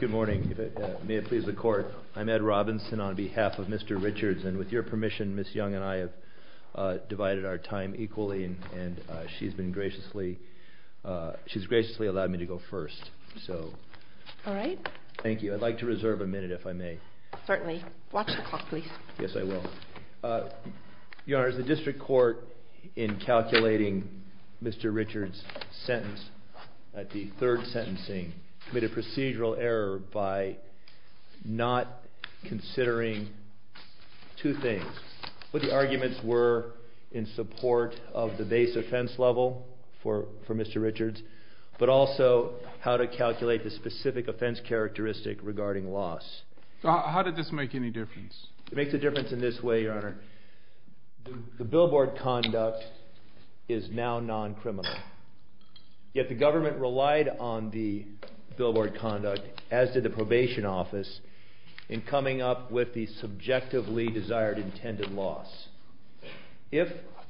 Good morning. May it please the court. I'm Ed Robinson on behalf of Mr. Richards and with your permission Ms. Young and I have divided our time equally and she's graciously allowed me to go first. Thank you. I'd like to reserve a minute if I may. Certainly. Watch the clock please. Yes I will. Your honor, the district court in calculating Mr. Richards' sentence at the third sentencing made a procedural error by not considering two things. What the arguments were in support of the base offense level for Mr. Richards but also how to calculate the specific offense characteristic regarding loss. How did this make any difference? It makes a difference in this way your honor. The billboard conduct is now non-criminal. Yet the government relied on the billboard conduct as did the probation office in coming up with the subjectively desired intended loss. If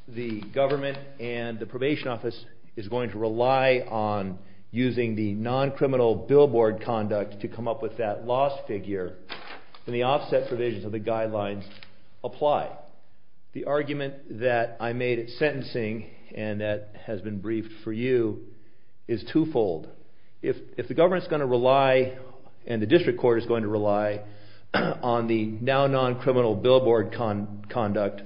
the government and the probation office is going to rely on using the non-criminal billboard conduct to come up with that loss figure then the offset provisions of the guidelines apply. The argument that I made at sentencing and that has been briefed for you is two-fold. If the government is going to rely and the district court is going to rely on the now non-criminal billboard conduct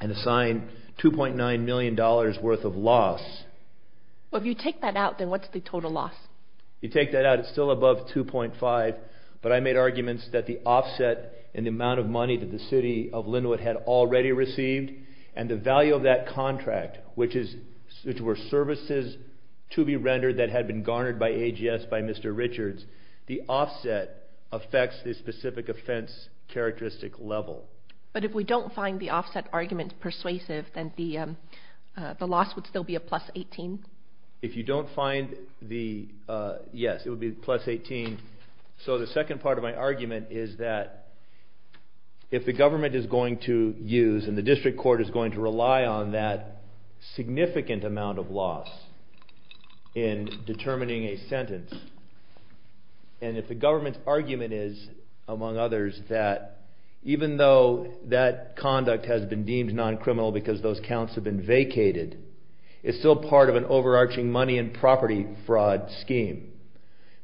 and assign 2.9 million dollars worth of loss. Well if you take that out then what's the total loss? If you take that out it's still above 2.5 but I made arguments that the offset in the amount of money that the city of Linwood had already received and the value of that contract which were services to be rendered that had been garnered by AGS by Mr. Richards, the offset affects the specific offense characteristic level. But if we don't find the offset argument persuasive then the loss would still be a plus 18? If you don't find the, yes it would be plus 18. So the second part of my argument is that if the government is going to use and the district court is going to rely on that significant amount of loss in determining a sentence and if the government's argument is among others that even though that conduct has been deemed non-criminal because those counts have been vacated, it's still part of an overarching money and property fraud scheme.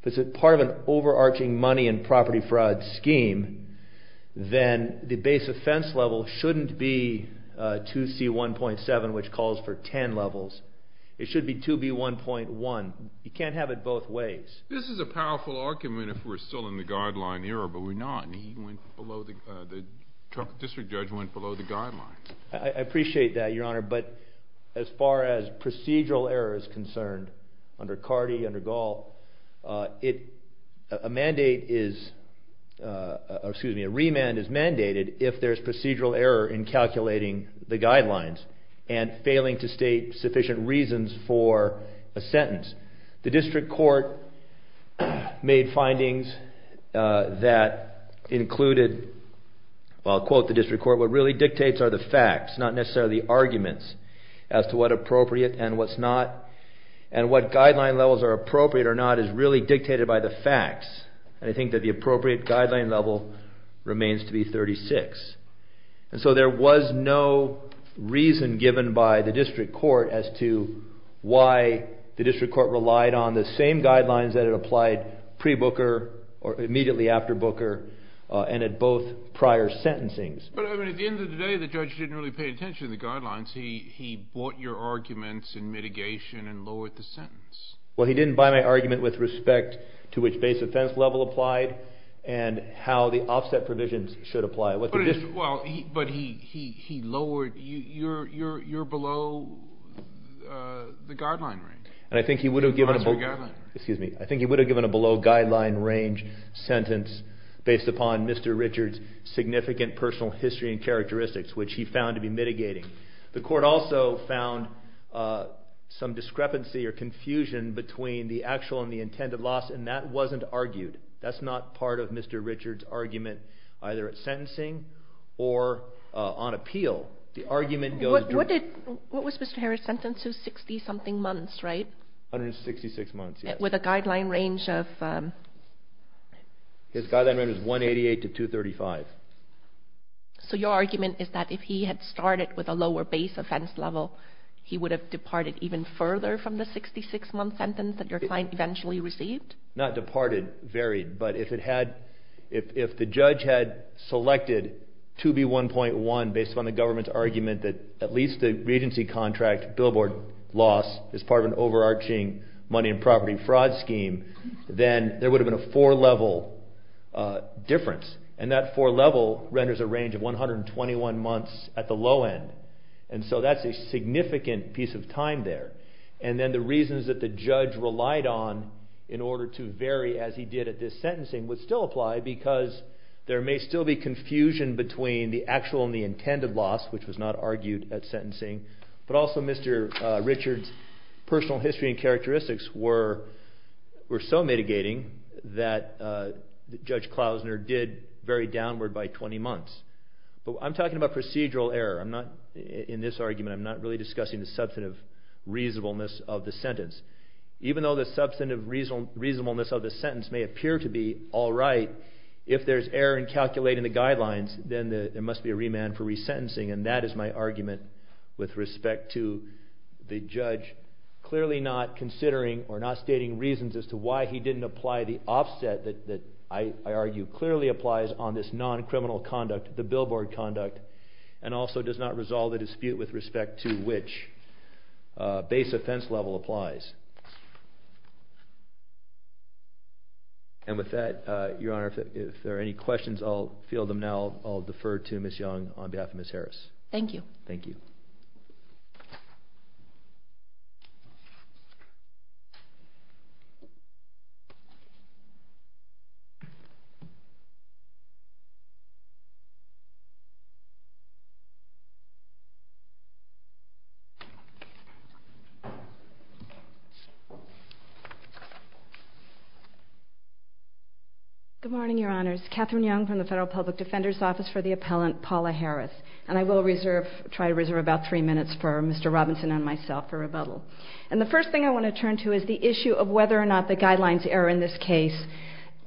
If it's part of an overarching money and property fraud scheme then the base offense level shouldn't be 2C1.7 which calls for 10 levels. It should be 2B1.1. You can't have it both ways. This is a powerful argument if we're still in the guideline era but we're not and the district judge went below the guideline. I appreciate that Your Honor but as far as procedural error is concerned under Carty, under Gall, a remand is mandated if there's procedural error in calculating the guidelines and failing to state sufficient reasons for a sentence. The district court made findings that included, well I'll quote the district court, what really dictates are the facts not necessarily the arguments as to what appropriate and what's not and what guideline levels are appropriate or not is really dictated by the facts and I think that the appropriate guideline level remains to be 36. So there was no reason given by the district court as to why the district court relied on the same guidelines that it applied pre-Booker or immediately after Booker and at both prior sentencing. But at the end of the day the judge didn't really pay attention to the guidelines. He bought your arguments and mitigation and lowered the sentence. Well he didn't buy my argument with respect to which base offense level applied and how the offset provisions should apply. But he lowered, you're below the guideline range. And I think he would have given a below guideline range sentence based upon Mr. Richard's significant personal history and characteristics which he found to be mitigating. The court also found some discrepancy or confusion between the actual and the intended loss and that wasn't argued. That's not part of Mr. Richard's argument either at sentencing or on appeal. What was Mr. Harris' sentence? It was 60 something months, right? 166 months, yes. With a guideline range of? His guideline range was 188 to 235. So your argument is that if he had started with a lower base offense level he would have departed even further from the 66 month sentence that your client eventually received? Not departed, varied. But if the judge had selected 2B1.1 based upon the government's argument that at least the regency contract billboard loss is part of an overarching money and property fraud scheme, then there would have been a four level difference. And that four level renders a range of 121 months at the low end. And so that's a significant piece of time there. And then the reasons that the judge relied on in order to vary as he did at this sentencing would still apply because there may still be confusion between the actual and the intended loss which was not argued at sentencing. But also Mr. Richard's personal history and characteristics were so mitigating that Judge Klausner did vary downward by 20 months. But I'm talking about procedural error. In this argument I'm not really discussing the substantive reasonableness of the sentence. Even though the substantive reasonableness of the sentence may appear to be all right, if there's error in calculating the guidelines then there must be a remand for resentencing. And that is my argument with respect to the judge clearly not considering or not stating reasons as to why he didn't apply the offset that I argue clearly applies on this non-criminal conduct, the billboard conduct, and also does not resolve the dispute with respect to which base offense level applies. And with that, Your Honor, if there are any questions I'll field them now. I'll defer to Ms. Young on behalf of Ms. Harris. Thank you. Thank you. Good morning, Your Honors. Katherine Young from the Federal Public Defender's Office for the Appellant, Paula Harris. And I will reserve, try to reserve about three minutes for Mr. Robinson and myself for rebuttal. And the first thing I want to turn to is the issue of whether or not the guidelines error in this case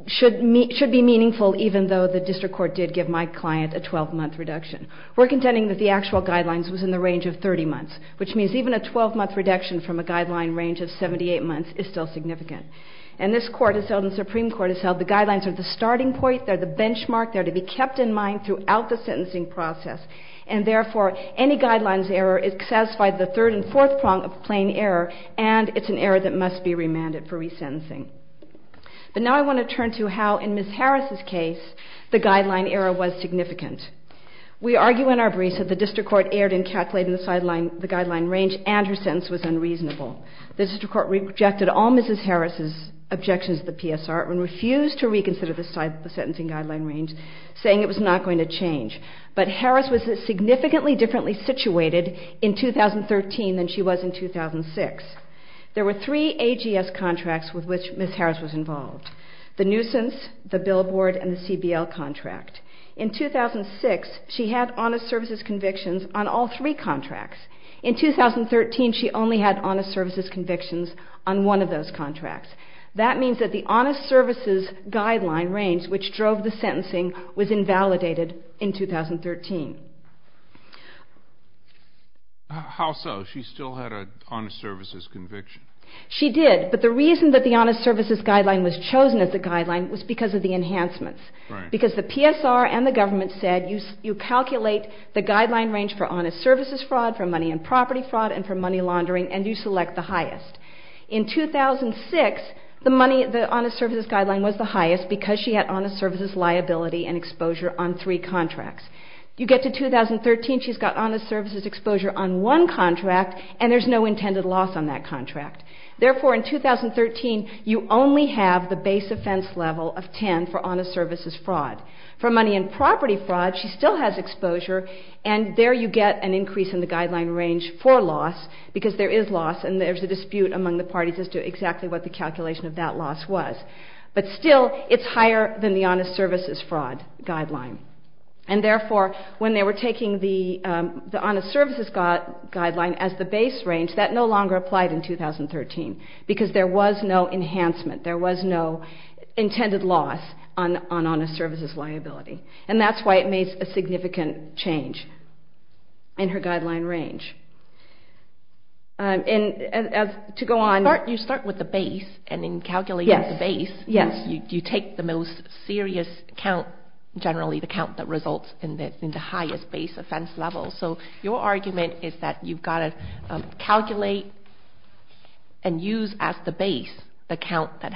should be meaningful even though the district court did give my client a 12-month reduction. We're contending that the actual guidelines was in the range of 30 months, which means even a 12-month reduction from a guideline range of 78 months is still significant. And this Court has held and the Supreme Court has held the guidelines are the starting point, they're the benchmark, they're to be kept in mind throughout the sentencing process. And therefore, any guidelines error is satisfied the third and fourth prong of plain error and it's an error that must be remanded for resentencing. But now I want to turn to how in Ms. Harris' case the guideline error was significant. We argue in our briefs that the district court erred in calculating the guideline range and her sentence was unreasonable. The district court rejected all Ms. Harris' objections to the PSR and refused to reconsider the sentencing guideline range, saying it was not going to change. But Harris was significantly differently situated in 2013 than she was in 2006. There were three AGS contracts with which Ms. Harris was involved, the nuisance, the billboard, and the CBL contract. In 2006, she had honest services convictions on all three contracts. In 2013, she only had honest services convictions on one of those contracts. That means that the honest services guideline range, which drove the sentencing, was invalidated in 2013. How so? She still had an honest services conviction. She did, but the reason that the honest services guideline was chosen as the guideline was because of the enhancements. Because the PSR and the government said you calculate the guideline range for honest services fraud, for money and property fraud, and for money laundering, and you select the highest. In 2006, the honest services guideline was the highest because she had honest services liability and exposure on three contracts. You get to 2013, she's got honest services exposure on one contract, and there's no intended loss on that contract. Therefore, in 2013, you only have the base offense level of 10 for honest services fraud. For money and property fraud, she still has exposure, and there you get an increase in the guideline range for loss, because there is loss, and there's a dispute among the parties as to exactly what the calculation of that loss was. But still, it's higher than the honest services fraud guideline. And therefore, when they were taking the honest services guideline as the base range, that no longer applied in 2013, because there was no enhancement. There was no intended loss on honest services liability, and that's why it made a significant change in her guideline range. And to go on. You start with the base, and in calculating the base, you take the most serious count, generally the count that results in the highest base offense level. So your argument is that you've got to calculate and use as the base the count that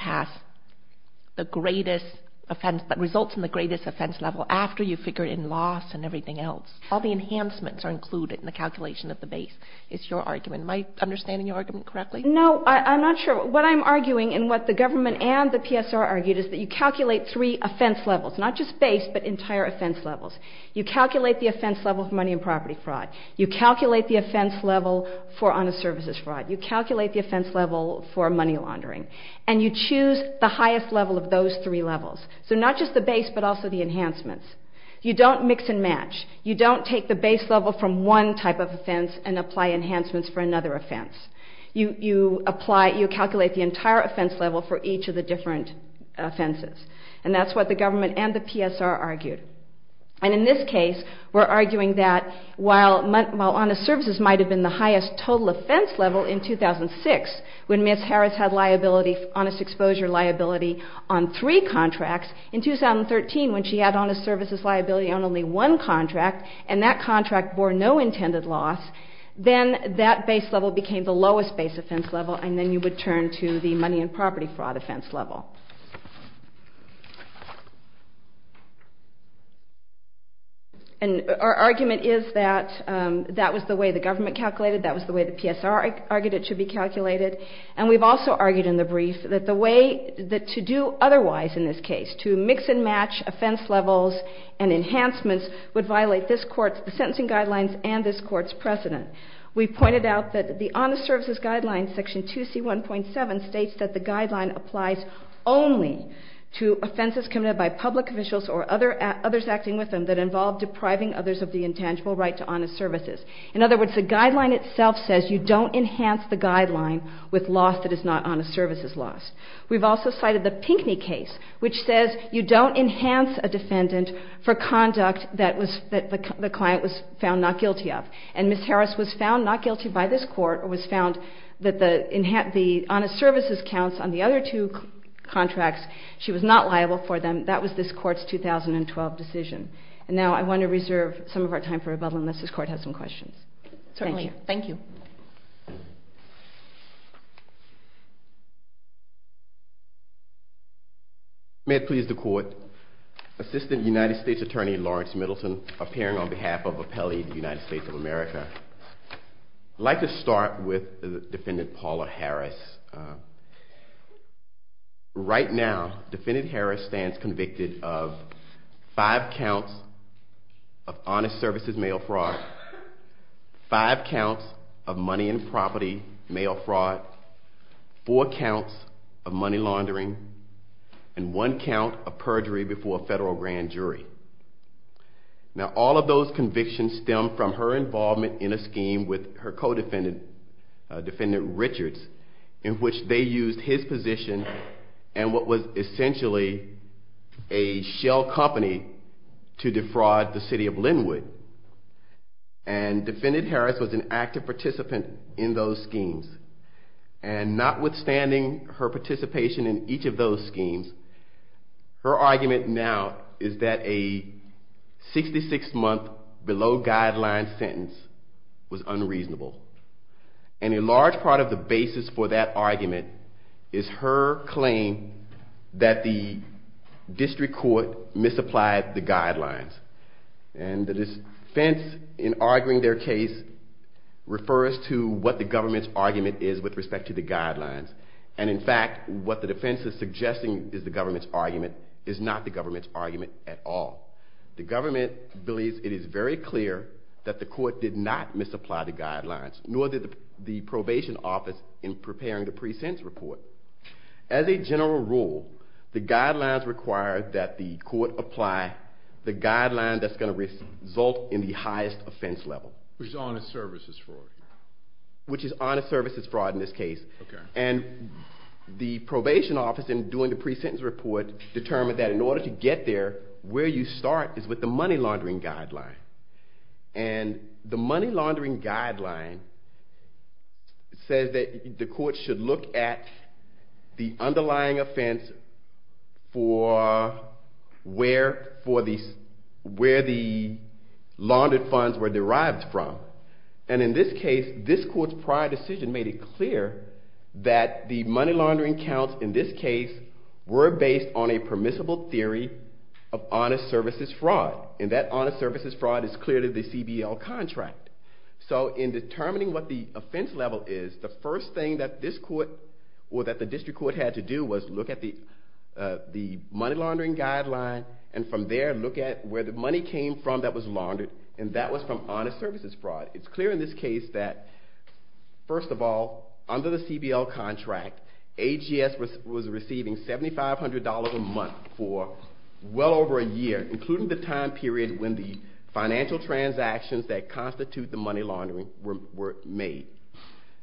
results in the greatest offense level after you figure in loss and everything else. All the enhancements are included in the calculation of the base, is your argument. Am I understanding your argument correctly? No, I'm not sure. What I'm arguing, and what the government and the PSR argued, is that you calculate three offense levels, not just base, but entire offense levels. You calculate the offense level for money and property fraud. You calculate the offense level for honest services fraud. You calculate the offense level for money laundering. And you choose the highest level of those three levels. So not just the base, but also the enhancements. You don't mix and match. You don't take the base level from one type of offense and apply enhancements for another offense. You calculate the entire offense level for each of the different offenses. And that's what the government and the PSR argued. And in this case, we're arguing that while honest services might have been the highest total offense level in 2006, when Ms. Harris had liability, honest exposure liability, on three contracts, in 2013, when she had honest services liability on only one contract, and that contract bore no intended loss, then that base level became the lowest base offense level, and then you would turn to the money and property fraud offense level. And our argument is that that was the way the government calculated. That was the way the PSR argued it should be calculated. And we've also argued in the brief that the way to do otherwise in this case, to mix and match offense levels and enhancements, would violate this Court's sentencing guidelines and this Court's precedent. We pointed out that the Honest Services Guidelines, Section 2C1.7, states that the guideline applies only to offenses committed by public officials or others acting with them that involve depriving others of the intangible right to honest services. In other words, the guideline itself says you don't enhance the guideline with loss that is not honest services loss. We've also cited the Pinckney case, which says you don't enhance a defendant for conduct that the client was found not guilty of. And Ms. Harris was found not guilty by this Court, or was found that the honest services counts on the other two contracts, she was not liable for them, that was this Court's 2012 decision. And now I want to reserve some of our time for rebuttal, unless this Court has some questions. Certainly. Thank you. May it please the Court, Assistant United States Attorney Lawrence Middleton, appearing on behalf of Appellee United States of America. I'd like to start with Defendant Paula Harris. Right now, Defendant Harris stands convicted of five counts of honest services mail fraud, five counts of money and property mail fraud, four counts of money laundering, and one count of perjury before a federal grand jury. Now all of those convictions stem from her involvement in a scheme with her co-defendant, Defendant Richards, in which they used his position and what was essentially a shell company to defraud the city of Linwood. And Defendant Harris was an active participant in those schemes. And notwithstanding her participation in each of those schemes, her argument now is that a 66-month below-guideline sentence was unreasonable. And a large part of the basis for that argument is her claim that the district court misapplied the guidelines. And the defense in arguing their case refers to what the government's argument is with respect to the guidelines. And in fact, what the defense is suggesting is the government's argument is not the government's argument at all. The government believes it is very clear that the court did not misapply the guidelines, nor did the probation office in preparing the pre-sentence report. As a general rule, the guidelines require that the court apply the guideline that's going to result in the highest offense level. Which is honest services fraud. Which is honest services fraud in this case. And the probation office in doing the pre-sentence report determined that in order to get there, where you start is with the money laundering guideline. And the money laundering guideline says that the court should look at the underlying offense for where the laundered funds were derived from. And in this case, this court's prior decision made it clear that the money laundering counts in this case were based on a permissible theory of honest services fraud. And that honest services fraud is clearly the CBL contract. So in determining what the offense level is, the first thing that this court or that the district court had to do was look at the money laundering guideline and from there look at where the money came from that was laundered. And that was from honest services fraud. It's clear in this case that, first of all, under the CBL contract, AGS was receiving $7,500 a month for well over a year, including the time period when the financial transactions that constitute the money laundering were made.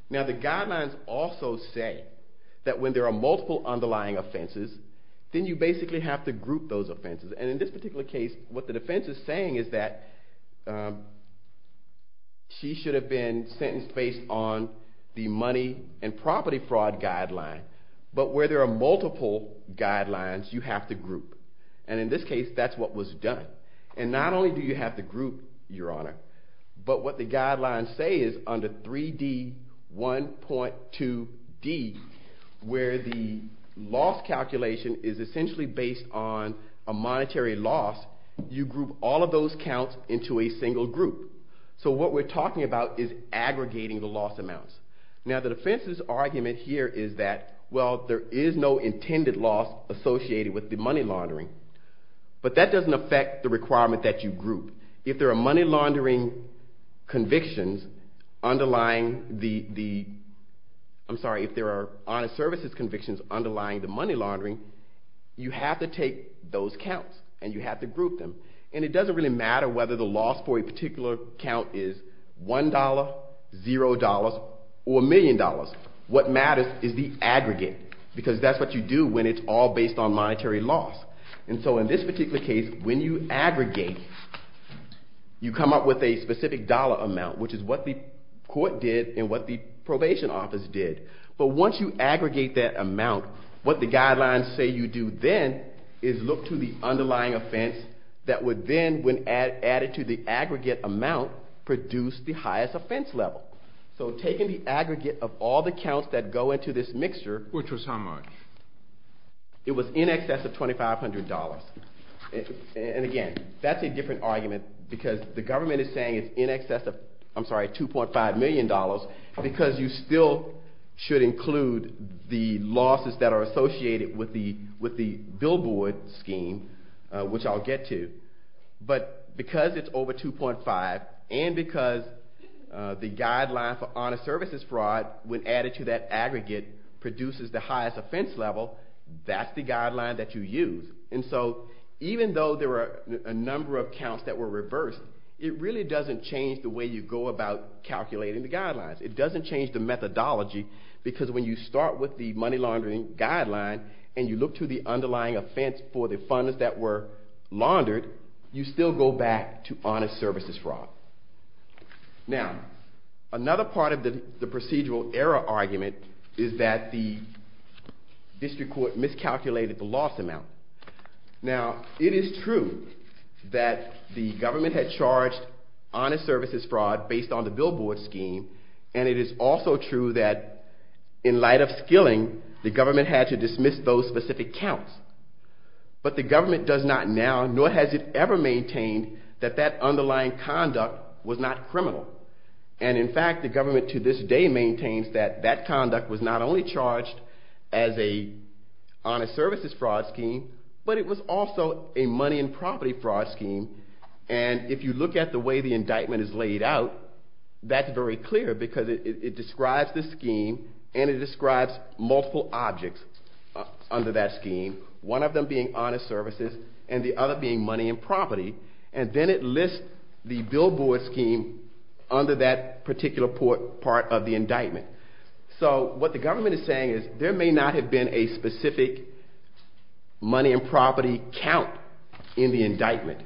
Now the guidelines also say that when there are multiple underlying offenses, then you basically have to group those offenses. And in this particular case, what the defense is saying is that she should have been sentenced based on the money and property fraud guideline. But where there are multiple guidelines, you have to group. And in this case, that's what was done. And not only do you have to group, Your Honor, but what the guidelines say is under 3D1.2D, where the loss calculation is essentially based on a monetary loss, you group all of those counts into a single group. So what we're talking about is aggregating the loss amounts. Now the defense's argument here is that, well, there is no intended loss associated with the money laundering. But that doesn't affect the requirement that you group. If there are money laundering convictions underlying the, I'm sorry, if there are honest services convictions underlying the money laundering, you have to take those counts, and you have to group them. And it doesn't really matter whether the loss for a particular count is $1, $0, or $1 million. What matters is the aggregate, because that's what you do when it's all based on monetary loss. And so in this particular case, when you aggregate, you come up with a specific dollar amount, which is what the court did and what the probation office did. But once you aggregate that amount, what the guidelines say you do then is look to the underlying offense that would then, when added to the aggregate amount, produce the highest offense level. So taking the aggregate of all the counts that go into this mixture. Which was how much? It was in excess of $2,500. And again, that's a different argument, because the government is saying it's in excess of, I'm sorry, $2.5 million, because you still should include the losses that are associated with the billboard scheme, which I'll get to. But because it's over $2.5, and because the guideline for honest services fraud, when added to that aggregate, produces the highest offense level, that's the guideline that you use. And so even though there are a number of counts that were reversed, it really doesn't change the way you go about calculating the guidelines. It doesn't change the methodology, because when you start with the money laundering guideline and you look to the underlying offense for the funds that were laundered, you still go back to honest services fraud. Now, another part of the procedural error argument is that the district court miscalculated the loss amount. Now, it is true that the government had charged honest services fraud based on the billboard scheme, and it is also true that in light of skilling, the government had to dismiss those specific counts. But the government does not now, nor has it ever maintained, that that underlying conduct was not criminal. And in fact, the government to this day maintains that that conduct was not only charged as an honest services fraud scheme, but it was also a money and property fraud scheme. And if you look at the way the indictment is laid out, that's very clear, because it describes the scheme and it describes multiple objects under that scheme, one of them being honest services and the other being money and property. And then it lists the billboard scheme under that particular part of the indictment. So what the government is saying is there may not have been a specific money and property count in the indictment,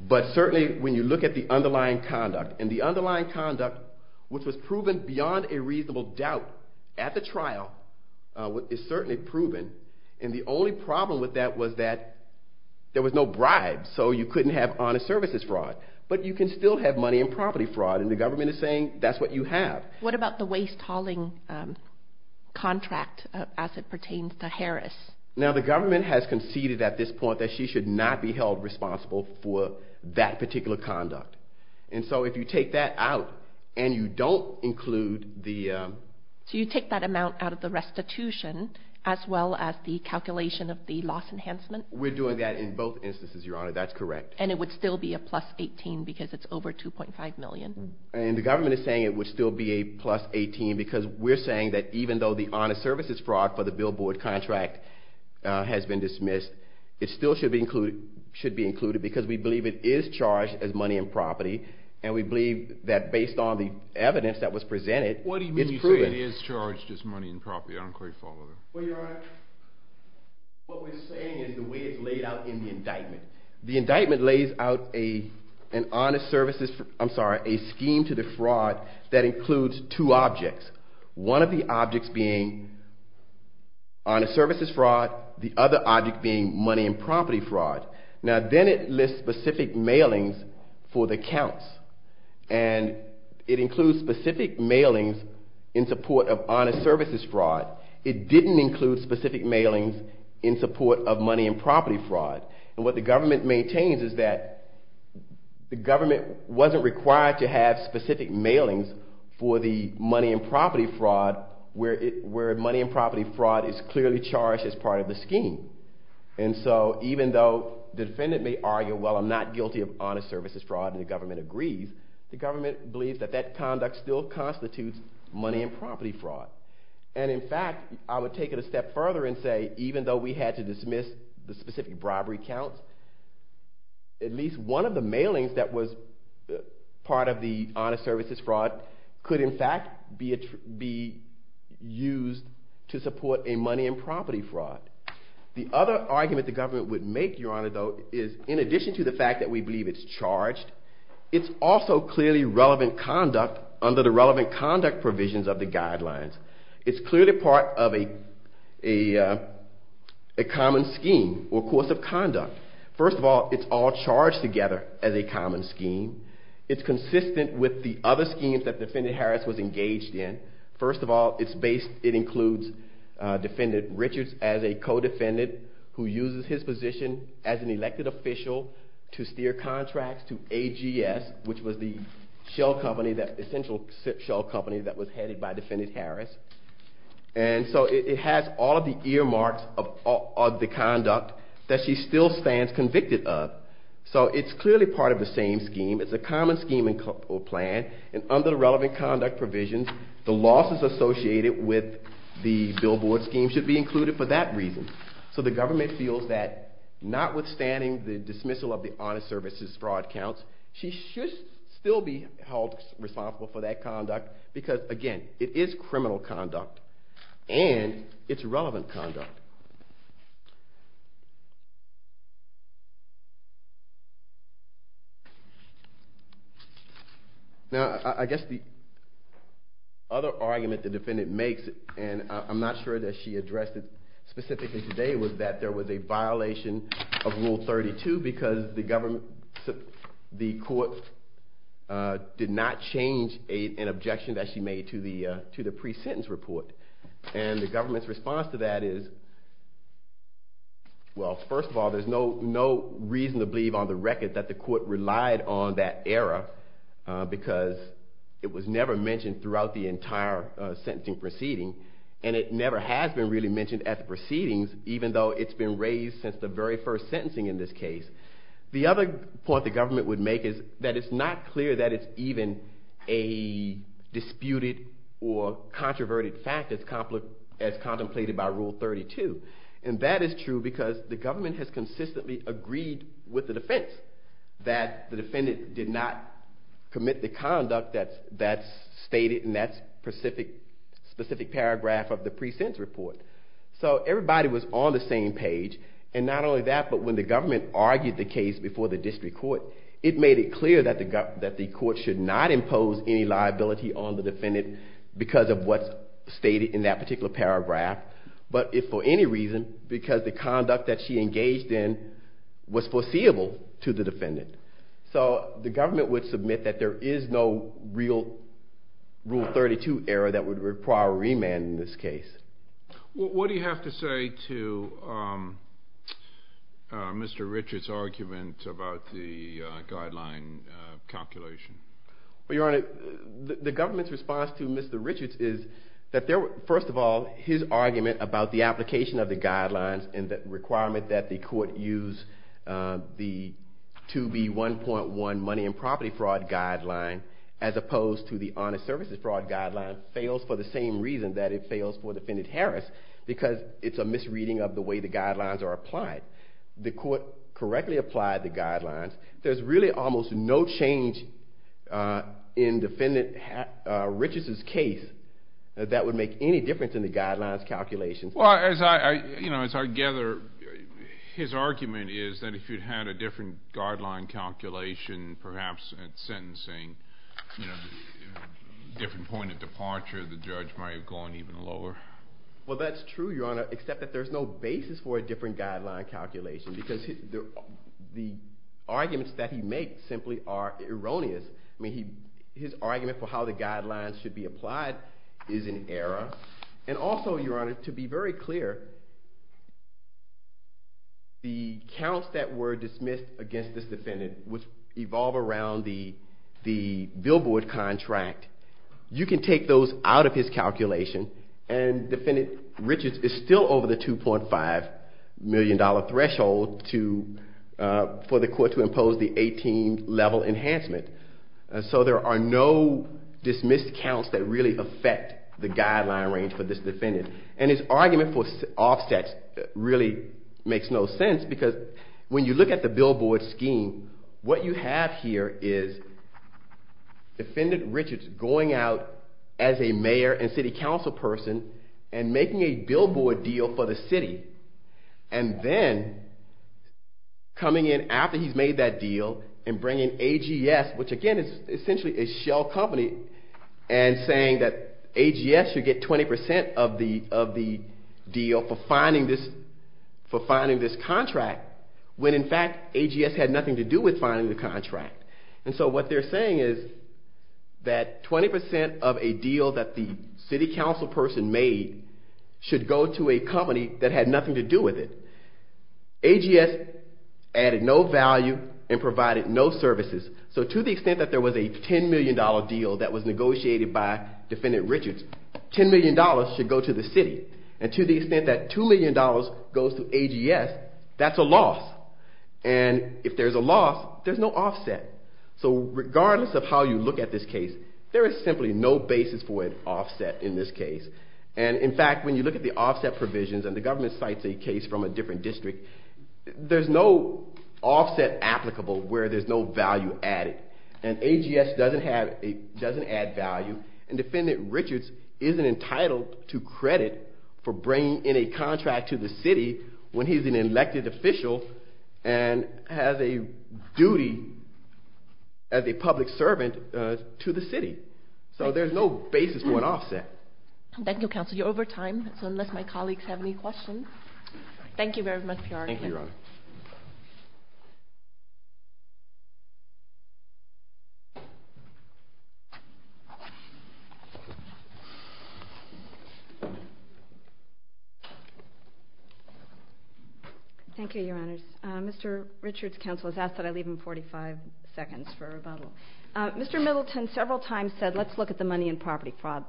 but certainly when you look at the underlying conduct, and the underlying conduct, which was proven beyond a reasonable doubt at the trial, is certainly proven. And the only problem with that was that there was no bribes, so you couldn't have honest services fraud. But you can still have money and property fraud, and the government is saying that's what you have. What about the waste hauling contract as it pertains to Harris? Now, the government has conceded at this point that she should not be held responsible for that particular conduct. And so if you take that out and you don't include the… So you take that amount out of the restitution as well as the calculation of the loss enhancement? We're doing that in both instances, Your Honor, that's correct. And it would still be a plus 18 because it's over $2.5 million. And the government is saying it would still be a plus 18 because we're saying that even though the honest services fraud for the billboard contract has been dismissed, it still should be included because we believe it is charged as money and property. And we believe that based on the evidence that was presented, it's proven. What do you mean you say it is charged as money and property? I don't quite follow that. Well, Your Honor, what we're saying is the way it's laid out in the indictment. The indictment lays out a scheme to the fraud that includes two objects, one of the objects being honest services fraud, the other object being money and property fraud. Now, then it lists specific mailings for the counts. And it includes specific mailings in support of honest services fraud. It didn't include specific mailings in support of money and property fraud. And what the government maintains is that the government wasn't required to have specific mailings for the money and property fraud where money and property fraud is clearly charged as part of the scheme. And so even though the defendant may argue, well, I'm not guilty of honest services fraud, and the government agrees, the government believes that that conduct still constitutes money and property fraud. And in fact, I would take it a step further and say even though we had to dismiss the specific robbery counts, at least one of the mailings that was part of the honest services fraud could in fact be used to support a money and property fraud. The other argument the government would make, Your Honor, though, is in addition to the fact that we believe it's charged, it's also clearly relevant conduct under the relevant conduct provisions of the guidelines. It's clearly part of a common scheme or course of conduct. First of all, it's all charged together as a common scheme. It's consistent with the other schemes that Defendant Harris was engaged in. First of all, it includes Defendant Richards as a co-defendant who uses his position as an elected official to steer contracts to AGS, which was the essential shell company that was headed by Defendant Harris. And so it has all of the earmarks of the conduct that she still stands convicted of. So it's clearly part of the same scheme. It's a common scheme or plan. And under the relevant conduct provisions, the losses associated with the billboard scheme should be included for that reason. So the government feels that notwithstanding the dismissal of the honest services fraud counts, she should still be held responsible for that conduct because, again, it is criminal conduct and it's relevant conduct. Now, I guess the other argument the defendant makes, and I'm not sure that she addressed it specifically today, was that there was a violation of Rule 32 because the court did not change an objection that she made to the pre-sentence report. And the government's response to that is, well, first of all, there's no reason to believe on the record that the court relied on that error because it was never mentioned throughout the entire sentencing proceeding and it never has been really mentioned at the proceedings, even though it's been raised since the very first sentencing in this case. The other point the government would make is that it's not clear that it's even a disputed or controverted fact as contemplated by Rule 32. And that is true because the government has consistently agreed with the defense that the defendant did not commit the conduct that's stated in that specific paragraph of the pre-sentence report. So everybody was on the same page. And not only that, but when the government argued the case before the district court, it made it clear that the court should not impose any liability on the defendant because of what's stated in that particular paragraph, but if for any reason because the conduct that she engaged in was foreseeable to the defendant. So the government would submit that there is no real Rule 32 error that would require a remand in this case. What do you have to say to Mr. Richards' argument about the guideline calculation? Your Honor, the government's response to Mr. Richards is that first of all, his argument about the application of the guidelines and the requirement that the court use the 2B1.1 money and property fraud guideline as opposed to the honest services fraud guideline fails for the same reason that it fails for Defendant Harris because it's a misreading of the way the guidelines are applied. The court correctly applied the guidelines. There's really almost no change in Defendant Richards' case that would make any difference in the guidelines calculations. Well, as I gather, his argument is that if you had a different guideline calculation, perhaps at sentencing, a different point of departure, the judge might have gone even lower. Well, that's true, Your Honor, except that there's no basis for a different guideline calculation because the arguments that he makes simply are erroneous. I mean, his argument for how the guidelines should be applied is in error. And also, Your Honor, to be very clear, the counts that were dismissed against this defendant would evolve around the billboard contract. You can take those out of his calculation, and Defendant Richards is still over the $2.5 million threshold for the court to impose the 18-level enhancement. So there are no dismissed counts that really affect the guideline range for this defendant. And his argument for offsets really makes no sense because when you look at the billboard scheme, what you have here is Defendant Richards going out as a mayor and city council person and making a billboard deal for the city, and then coming in after he's made that deal and bringing AGS, which again is essentially a shell company, and saying that AGS should get 20% of the deal for finding this contract when in fact AGS had nothing to do with finding the contract. And so what they're saying is that 20% of a deal that the city council person made should go to a company that had nothing to do with it. AGS added no value and provided no services. So to the extent that there was a $10 million deal that was negotiated by Defendant Richards, $10 million should go to the city. And to the extent that $2 million goes to AGS, that's a loss. And if there's a loss, there's no offset. So regardless of how you look at this case, there is simply no basis for an offset in this case. And in fact, when you look at the offset provisions, and the government cites a case from a different district, there's no offset applicable where there's no value added. And AGS doesn't add value, and Defendant Richards isn't entitled to credit for bringing in a contract to the city when he's an elected official and has a duty as a public servant to the city. So there's no basis for an offset. Thank you, Counselor. You're over time, so unless my colleagues have any questions. Thank you very much, Your Honor. Thank you, Your Honor. Thank you, Your Honors. Mr. Richards' counsel has asked that I leave him 45 seconds for rebuttal. Mr. Middleton several times said let's look at the money and property fraud,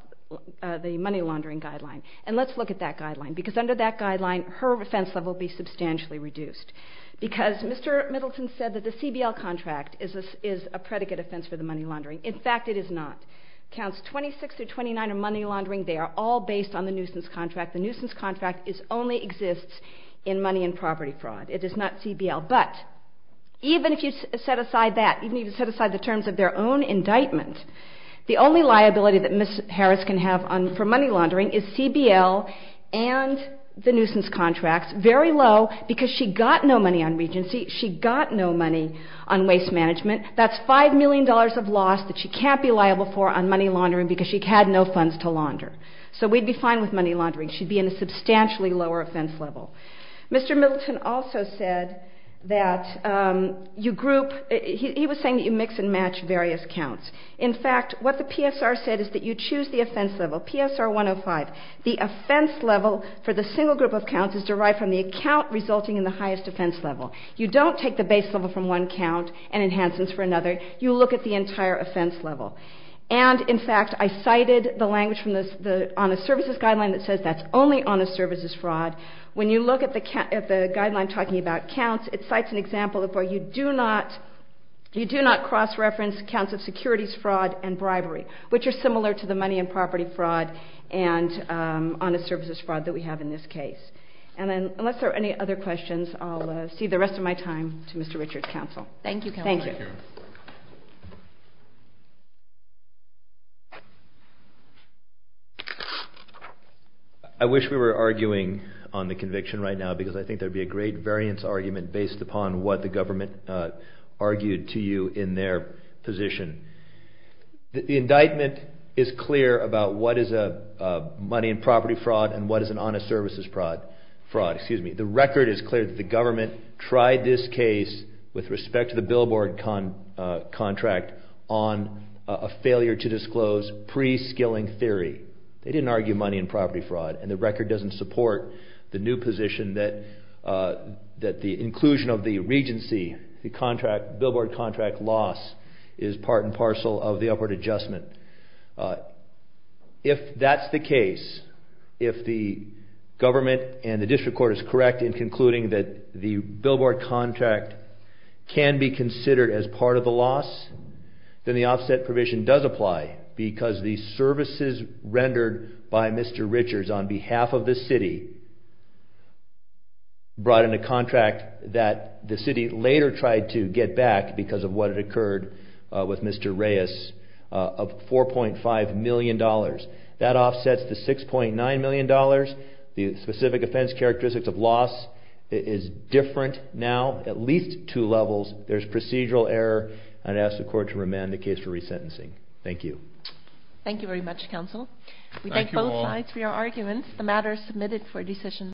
the money laundering guideline, and let's look at that guideline. Because under that guideline, her offense level will be substantially reduced. Because Mr. Middleton said that the CBL contract is a predicate offense for the money laundering. In fact, it is not. Counts 26 through 29 are money laundering. They are all based on the nuisance contract. The nuisance contract only exists in money and property fraud. It is not CBL. But even if you set aside that, even if you set aside the terms of their own indictment, the only liability that Ms. Harris can have for money laundering is CBL and the nuisance contracts. Very low, because she got no money on Regency. She got no money on waste management. That's $5 million of loss that she can't be liable for on money laundering because she had no funds to launder. So we'd be fine with money laundering. She'd be in a substantially lower offense level. Mr. Middleton also said that you group, he was saying that you mix and match various counts. In fact, what the PSR said is that you choose the offense level, PSR 105. The offense level for the single group of counts is derived from the account resulting in the highest offense level. You don't take the base level from one count and enhance it for another. You look at the entire offense level. And, in fact, I cited the language on the services guideline that says that's only honest services fraud. When you look at the guideline talking about counts, it cites an example of where you do not cross-reference counts of securities fraud and bribery, which are similar to the money and property fraud and honest services fraud that we have in this case. And then unless there are any other questions, I'll cede the rest of my time to Mr. Richard's counsel. Thank you, Counselor. Thank you. I wish we were arguing on the conviction right now because I think there would be a great variance argument based upon what the government argued to you in their position. The indictment is clear about what is a money and property fraud and what is an honest services fraud. The record is clear that the government tried this case with respect to the billboard contract on a failure to disclose pre-skilling theory. They didn't argue money and property fraud. And the record doesn't support the new position that the inclusion of the regency, the contract, billboard contract loss is part and parcel of the upward adjustment. If that's the case, if the government and the district court is correct in concluding that the billboard contract can be considered as part of the loss, then the offset provision does apply because the services rendered by Mr. Richards on behalf of the city brought in a contract that the city later tried to get back because of what had occurred with Mr. Reyes of $4.5 million. That offsets the $6.9 million. The specific offense characteristics of loss is different now at least two levels. There's procedural error, and I ask the court to remand the case for resentencing. Thank you. Thank you very much, counsel. Thank you all. We thank both sides for your arguments. The matter is submitted for decision.